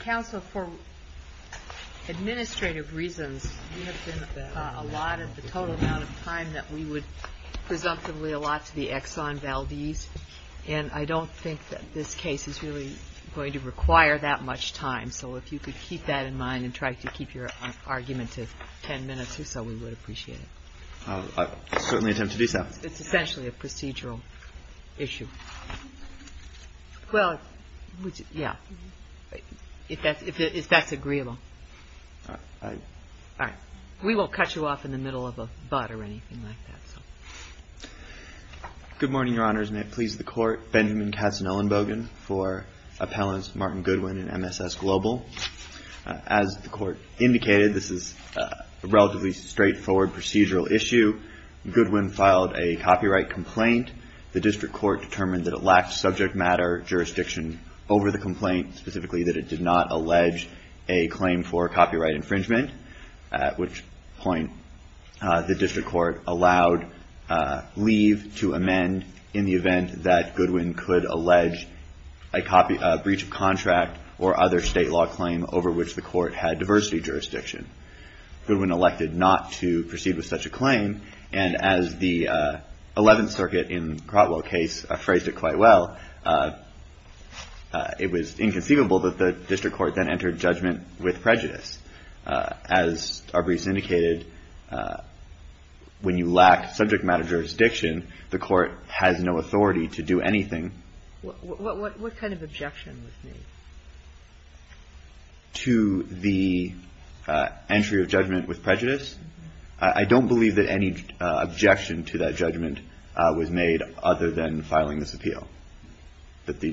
Council, for administrative reasons, you have given a total amount of time that we would presumptively allot to the Exxon Valdez, and I don't think that this case is really going to require that much time, so if you could keep that in mind and try to keep your argument to ten minutes or so, we would appreciate it. I certainly attempt to do so. It's essentially a procedural issue. Well, yeah, if that's agreeable. All right. We won't cut you off in the middle of a but or anything like that, so. Good morning, Your Honors. May it please the Court, Benjamin Katzen-Ullenbogen for Appellants Martin Goodwin and MSS Global. As the Court indicated, this is a relatively straightforward procedural issue. Goodwin filed a copyright complaint. The district court determined that it lacked subject matter jurisdiction over the complaint, specifically that it did not allege a claim for copyright infringement, at which point the district court allowed leave to amend in the event that Goodwin could allege a breach of contract or other state law claim over which the court had diversity jurisdiction. Goodwin elected not to proceed with such a claim, and as the Eleventh Circuit in Crotwell's case phrased it quite well, it was inconceivable that the district court then entered judgment with prejudice. As Arbrise indicated, when you lack subject matter jurisdiction, the court has no authority to do anything. What kind of objection was made? To the entry of judgment with prejudice? I don't believe that any objection to that judgment was made other than filing this appeal. There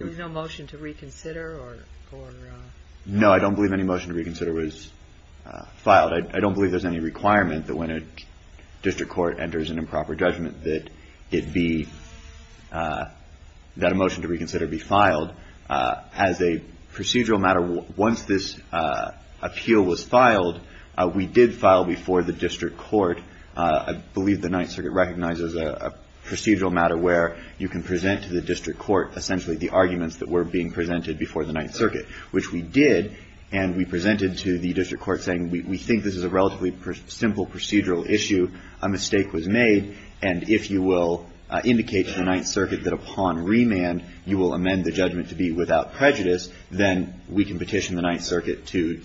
was no motion to reconsider? No, I don't believe any motion to reconsider was filed. I don't believe there's any requirement that when a district court enters an improper judgment that a motion to reconsider be filed. As a procedural matter, once this appeal was filed, we did file before the district court, I believe the Ninth Circuit recognizes a procedural matter where you can present to the district court essentially the arguments that were being presented before the Ninth Circuit, which we did, and we presented to the district court saying we think this is a relatively simple procedural issue, a mistake was made, and if you will indicate to the Ninth Circuit that upon remand you will amend the judgment to be without prejudice, then we can petition the Ninth Circuit to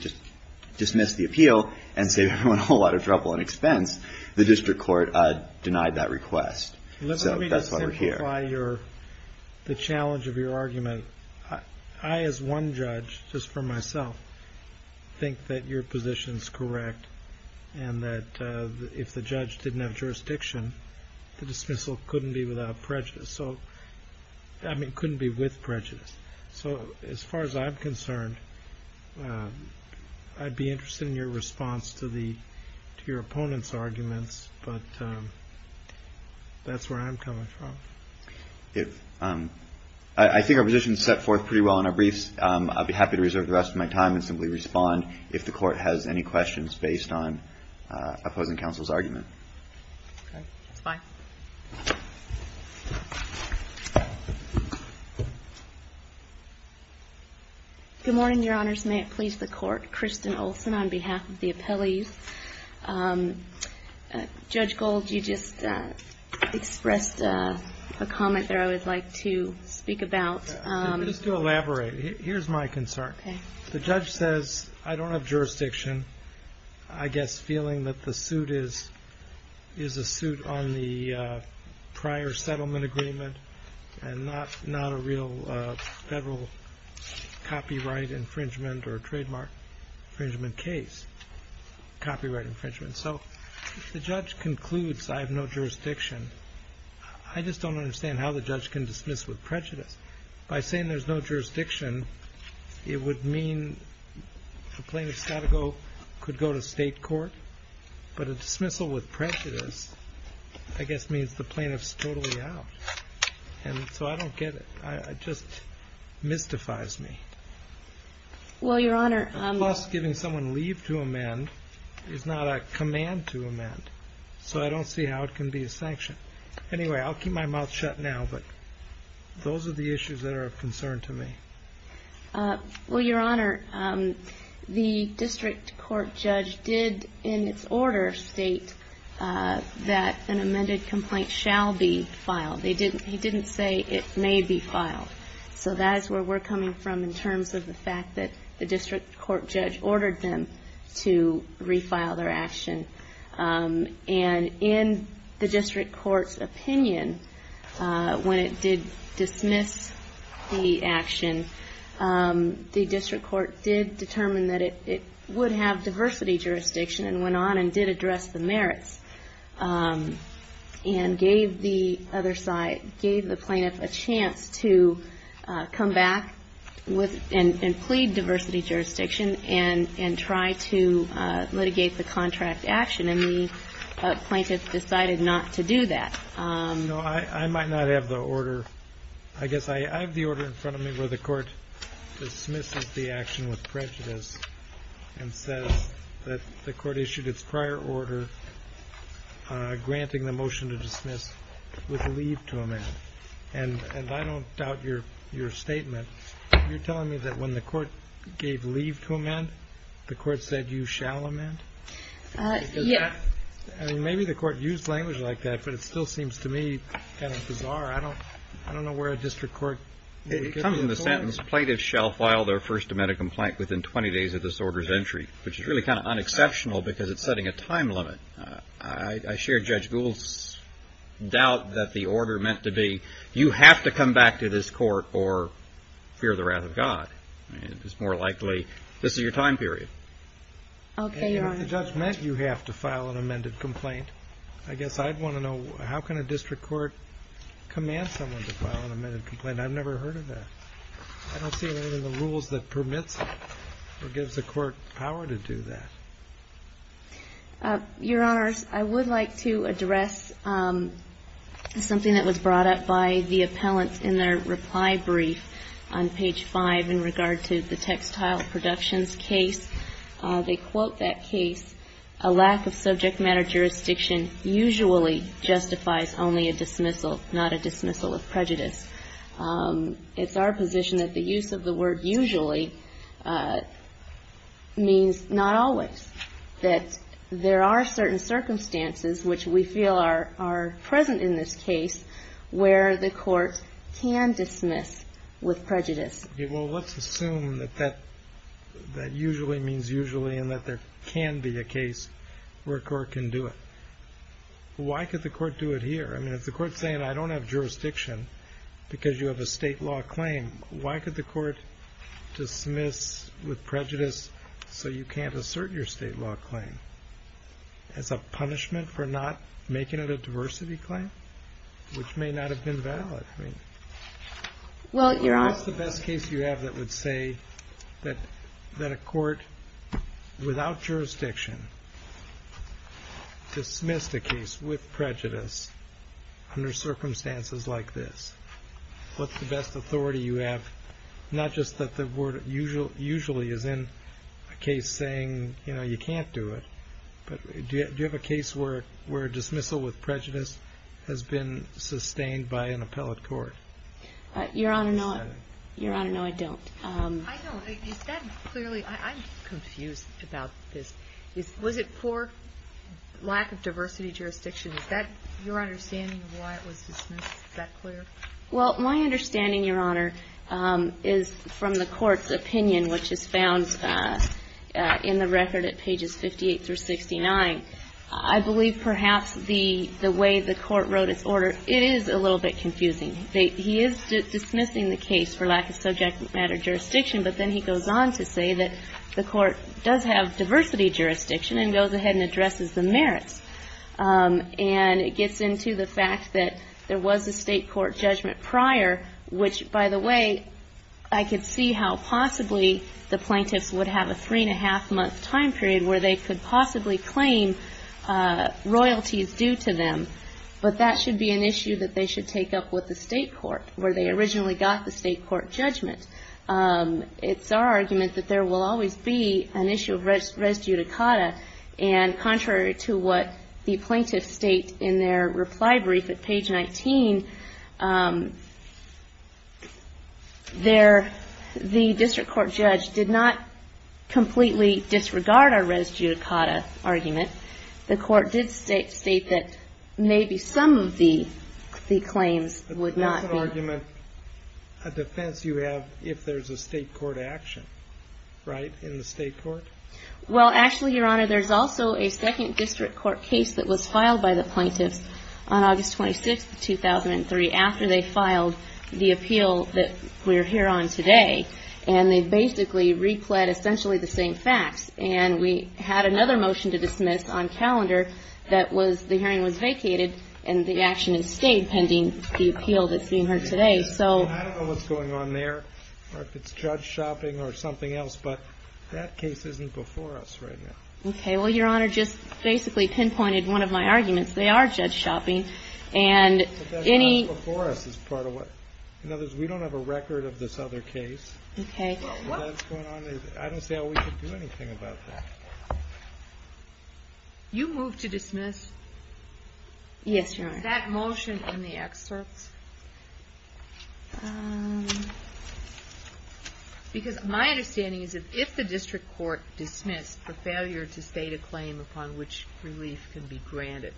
dismiss the appeal and save everyone a whole lot of trouble and expense. The district court denied that request. Let me just simplify the challenge of your argument. I as one judge, just for myself, think that your position is correct and that if the judge didn't have jurisdiction, the dismissal couldn't be without prejudice, I mean couldn't be with prejudice. So as far as I'm concerned, I'd be interested in your response to your opponent's arguments, but that's where I'm coming from. I think our position is set forth pretty well in our briefs. I'd be happy to reserve the rest of my time and simply respond if the court has any questions based on opposing counsel's argument. Okay, that's fine. Good morning, Your Honors. May it please the Court. Kristen Olson on behalf of the appellees. Judge Gold, you just expressed a comment that I would like to speak about. Just to elaborate, here's my concern. The judge says, I don't have jurisdiction. I guess feeling that the suit is a suit on the prior settlement agreement and not a real federal copyright infringement or trademark infringement case, copyright infringement. So if the judge concludes I have no jurisdiction, I just don't understand how the judge can dismiss with prejudice. By saying there's no jurisdiction, it would mean the plaintiff's got to go, could go to state court. But a dismissal with prejudice, I guess means the plaintiff's totally out. And so I don't get it. It just mystifies me. Well, Your Honor. Plus, giving someone leave to amend is not a command to amend. So I don't see how it can be a sanction. Anyway, I'll keep my mouth shut now, but those are the issues that are of concern to me. Well, Your Honor, the district court judge did in its order state that an amended complaint shall be filed. He didn't say it may be filed. So that is where we're coming from in terms of the fact that the district court judge ordered them to refile their action. And in the district court's opinion, when it did dismiss the action, the district court did determine that it would have diversity jurisdiction and went on and did address the merits and gave the plaintiff a chance to come back and plead diversity jurisdiction and try to litigate the contract action. And the plaintiff decided not to do that. No, I might not have the order. I guess I have the order in front of me where the court dismisses the action with prejudice and says that the court issued its prior order granting the motion to dismiss with leave to amend. And I don't doubt your statement. You're saying that the court said you shall amend. Maybe the court used language like that, but it still seems to me kind of bizarre. I don't know where a district court would get that from. It comes in the sentence, plaintiffs shall file their first amended complaint within twenty days of this order's entry, which is really kind of unexceptional because it's setting a time limit. I share Judge Gould's doubt that the order meant to be, you have to come back to this court or fear the wrath of God. It's more likely this is your time period. Okay, Your Honor. And if the judge meant you have to file an amended complaint, I guess I'd want to know how can a district court command someone to file an amended complaint? I've never heard of that. I don't see any of the rules that permits or gives the court power to do that. Your Honor, I would like to address something that was brought up by the appellants in their reply brief on page 5 in regard to the textile productions case. They quote that case, a lack of subject matter jurisdiction usually justifies only a dismissal, not a dismissal of prejudice. It's our position that the use of the word usually means not always, that there are certain circumstances which we feel are present in this case where the court can dismiss with prejudice. Okay, well, let's assume that that usually means usually and that there can be a case where a court can do it. Why could the court do it here? I mean, if the court's saying I don't have jurisdiction because you have a state law claim, why could the court dismiss with prejudice so you can't assert your state law claim as a punishment for not making it a diversity claim, which may not have been valid. I mean, what's the best case you have that would say that a court without jurisdiction dismissed a case with prejudice under circumstances like this? What's the best authority you have? Not just that the word usually is in a case saying, you know, you can't do it, but do you have a case where dismissal with prejudice has been sustained by an appellate court? Your Honor, no. Your Honor, no, I don't. I don't. Is that clearly, I'm confused about this. Was it poor lack of diversity jurisdiction? Is that your understanding of why it was dismissed? Is that clear? Well, my understanding, Your Honor, is from the court's opinion, which is found in the record at pages 58 through 69. I believe perhaps the way the court wrote its order is a little bit confusing. He is dismissing the case for lack of subject matter jurisdiction, but then he goes on to say that the court does have diversity jurisdiction and goes ahead and addresses the merits. And it gets into the fact that there was a state court judgment prior, which, by the way, I could see how possibly the plaintiffs would have a three-and-a-half-month time period where they could possibly claim royalties due to them. But that should be an issue that they should take up with the state court where they originally got the state court judgment. It's our argument that there will always be an issue of res judicata. And contrary to what the plaintiffs state in their reply brief at page 19, the district court judge did not completely disregard our res judicata argument. The court did state that maybe some of the claims would not be. But that's an argument, a defense you have, if there's a state court action, right, in the state court? Well, actually, Your Honor, there's also a second district court case that was filed by the plaintiffs on August 26, 2003, after they filed the appeal that we're here on today. And they basically replet essentially the same facts. And we had another motion to dismiss on calendar that was the hearing was vacated, and the action is stayed pending the appeal that's being heard today. So… I don't know what's going on there, or if it's judge shopping or something else. But that case isn't before us right now. Okay. Well, Your Honor, just basically pinpointed one of my arguments. They are judge shopping. And any… But that's not before us as part of what… In other words, we don't have a record of this other case. Okay. But what's going on is, I don't see how we could do anything about that. You move to dismiss? Yes, Your Honor. Is that motion in the excerpts? Yes. Because my understanding is that if the district court dismissed the failure to state a claim upon which relief can be granted,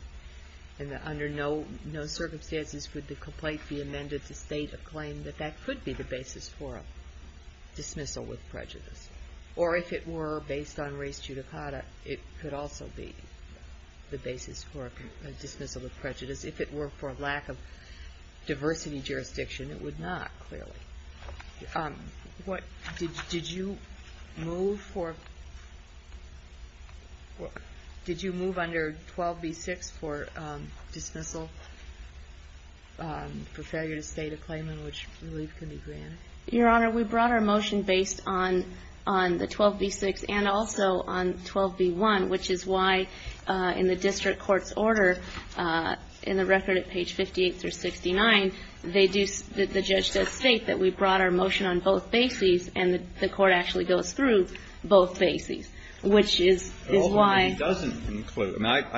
and that under no circumstances could the complaint be amended to state a claim, that that could be the basis for a dismissal with prejudice. Or if it were based on res judicata, it could also be the basis for a dismissal with prejudice. If it were for lack of diversity jurisdiction, it would not, clearly. Did you move for… Did you move under 12b6 for dismissal for failure to state a claim on which relief can be granted? Your Honor, we brought our motion based on the 12b6 and also on 12b1, which is why in the district court's order, in the record at page 58 through 69, they do… the judge does state that we brought our motion on both bases, and the court actually goes through both bases, which is why… I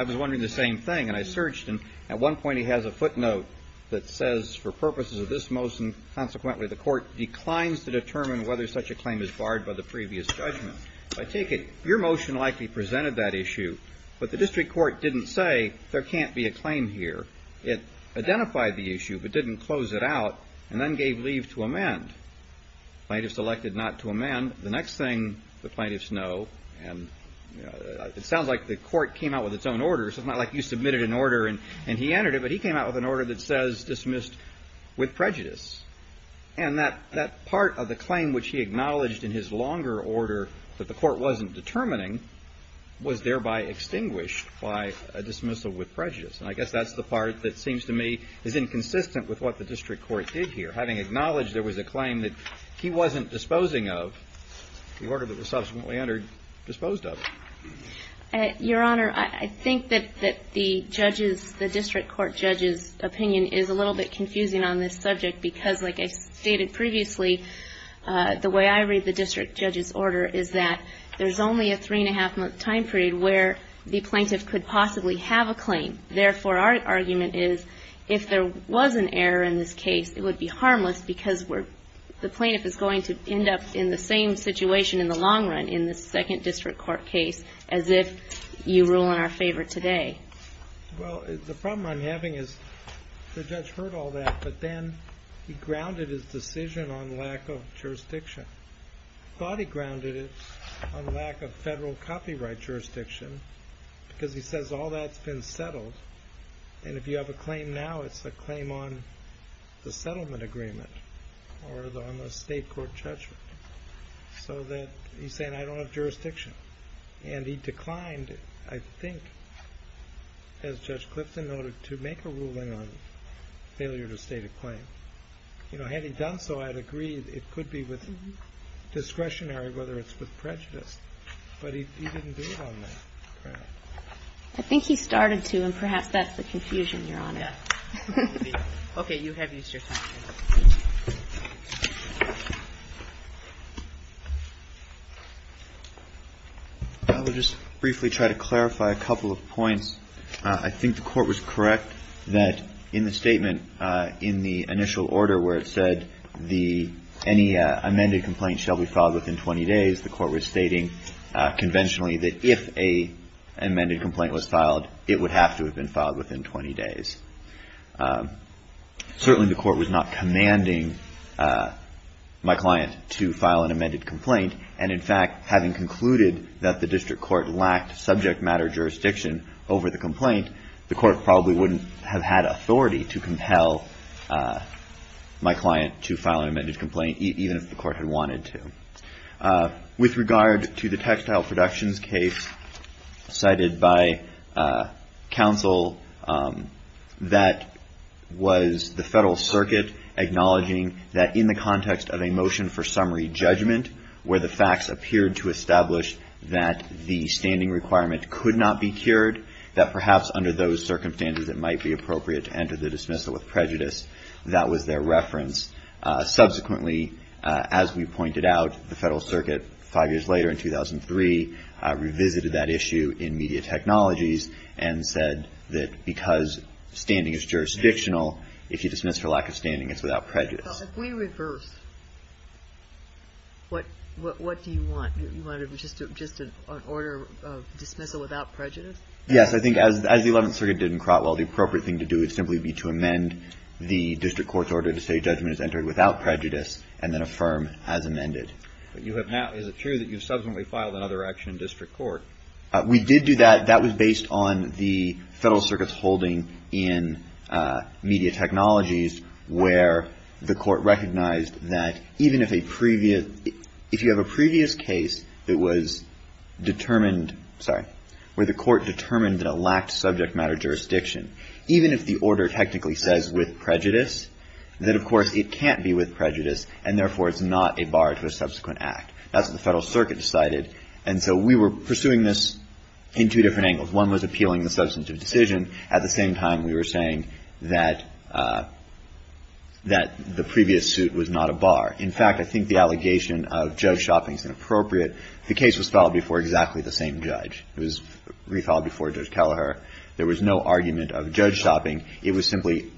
was wondering the same thing. And I searched, and at one point he has a footnote that says for purposes of this motion, consequently the court declines to determine whether such a claim is barred by the previous judgment. So I take it your motion likely presented that issue, but the district court didn't say there can't be a claim here. It identified the issue, but didn't close it out, and then gave leave to amend. Plaintiffs elected not to amend. The next thing the plaintiffs know, and it sounds like the court came out with its own order, so it's not like you submitted an order and he entered it, but he came out with an order that says dismissed with prejudice. And that part of the claim which he acknowledged in his longer order that the court wasn't determining was thereby extinguished by a dismissal with prejudice. And I guess that's the part that seems to me is inconsistent with what the district court did here, having acknowledged there was a claim that he wasn't disposing of, the order that was subsequently entered, disposed of. Your Honor, I think that the judge's, the district court judge's opinion is a little bit confusing on this subject because like I stated previously, the way I read the district judge's order is that there's only a three and a half month time period where the plaintiff could possibly have a claim. Therefore, our argument is if there was an error in this case, it would be harmless because the plaintiff is going to end up in the same situation in the long run in the second district court case as if you rule in our favor today. Well, the problem I'm having is the judge heard all that, but then he grounded his decision on lack of jurisdiction. Thought he grounded it on lack of federal copyright jurisdiction because he says all that's been settled. And if you have a claim now, it's a claim on the settlement agreement or on the state court judgment. So that he's saying I don't have as Judge Clifton noted to make a ruling on failure to state a claim. You know, had he done so, I'd agree it could be with discretionary, whether it's with prejudice, but he didn't do it on that ground. I think he started to, and perhaps that's the confusion, Your Honor. Okay. You have used your time here. I think the court was correct that in the statement, in the initial order where it said any amended complaint shall be filed within 20 days, the court was stating conventionally that if an amended complaint was filed, it would have to have been filed within 20 days. Certainly the court was not commanding my client to file an amended complaint. And in the case of the complaint, the court probably wouldn't have had authority to compel my client to file an amended complaint, even if the court had wanted to. With regard to the textile productions case cited by counsel, that was the federal circuit acknowledging that in the context of a motion for summary judgment, where the facts appeared to establish that the standing requirement could not be cured, that perhaps under those circumstances it might be appropriate to enter the dismissal with prejudice. That was their reference. Subsequently, as we pointed out, the federal circuit, five years later in 2003, revisited that issue in media technologies and said that because standing is jurisdictional, if you dismiss for lack of standing, it's without prejudice. If we reverse, what do you want? You want just an order of dismissal without prejudice? Yes. I think as the Eleventh Circuit did in Crotwell, the appropriate thing to do would simply be to amend the district court's order to say judgment is entered without prejudice and then affirm as amended. But you have now, is it true that you subsequently filed another action in district court? We did do that. That was based on the federal circuit's holding in media technologies where the court recognized that even if a previous, if you have a previous case that was determined, sorry, where the court determined that it lacked subject matter jurisdiction, even if the order technically says with prejudice, that of course it can't be with prejudice and therefore it's not a bar to a subsequent act. That's what the federal circuit decided. And so we were pursuing this in two different angles. One was appealing the substantive decision. At the same time, we were saying that the previous suit was not a bar. In fact, I think the allegation of judge shopping is inappropriate. The case was filed before exactly the same judge. It was refiled before Judge Kelleher. There was no argument of judge shopping. It was simply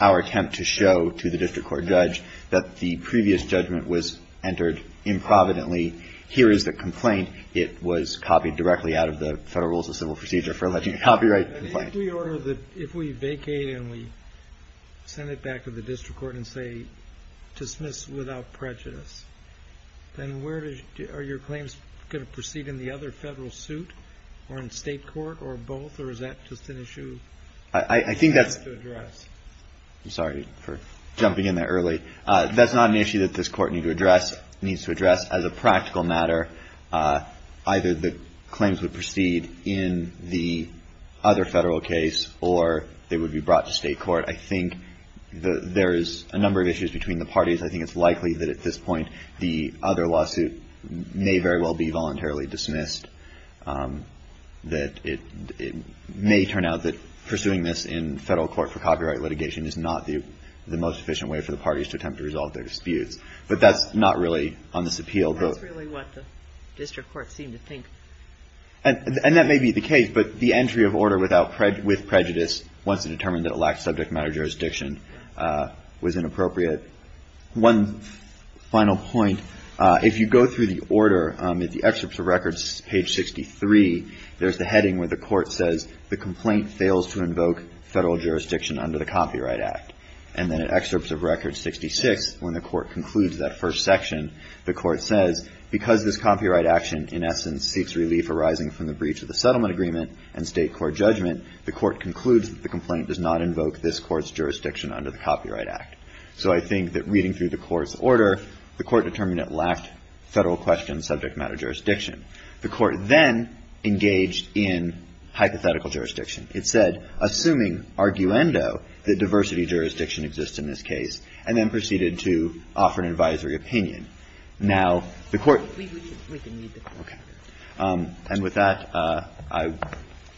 our attempt to show to the district court judge that the previous judgment was entered improvidently. Here is the complaint. It was copied directly out of the Federal Rules of Civil Procedure for alleging a copyrighted complaint. If we vacate and we send it back to the district court and say dismiss without prejudice, then where are your claims going to proceed in the other federal suit or in state court or both or is that just an issue? I think that's, I'm sorry for jumping in there early. That's not an issue that this court needs to address as a practical matter. Either the claims would proceed in the other federal case or they would be brought to state court. I think there is a number of issues between the parties. I think it's likely that at this point, the other lawsuit may very well be voluntarily dismissed. It may turn out that pursuing this in federal court for copyright litigation is not the most efficient way for the parties to attempt to resolve their disputes. But that's not really on this appeal. That's really what the district court seemed to think. And that may be the case, but the entry of order with prejudice once it determined that it lacked subject matter jurisdiction was inappropriate. One final point. If you go through the order, the excerpts of records, page 63, there's the heading where the court says the complaint fails to invoke federal jurisdiction under the Copyright Act. And then in excerpts of record 66, when the court concludes that first section, the court says, because this copyright action in essence seeks relief arising from the breach of the settlement agreement and state court judgment, the court concludes that the complaint does not invoke this court's jurisdiction under the Copyright Act. So I think that reading through the court's order, the court determined it lacked federal question subject matter jurisdiction. The court then engaged in hypothetical jurisdiction. It said, assuming arguendo, that diversity jurisdiction exists in this case, and then proceeded to offer an advisory opinion. Now, the court We can read the court order. And with that,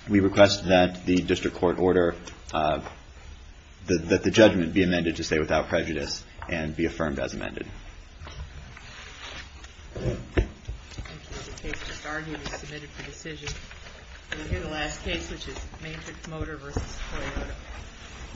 we request that the district court order, that the judgment be amended to say without prejudice and be affirmed as amended. Thank you.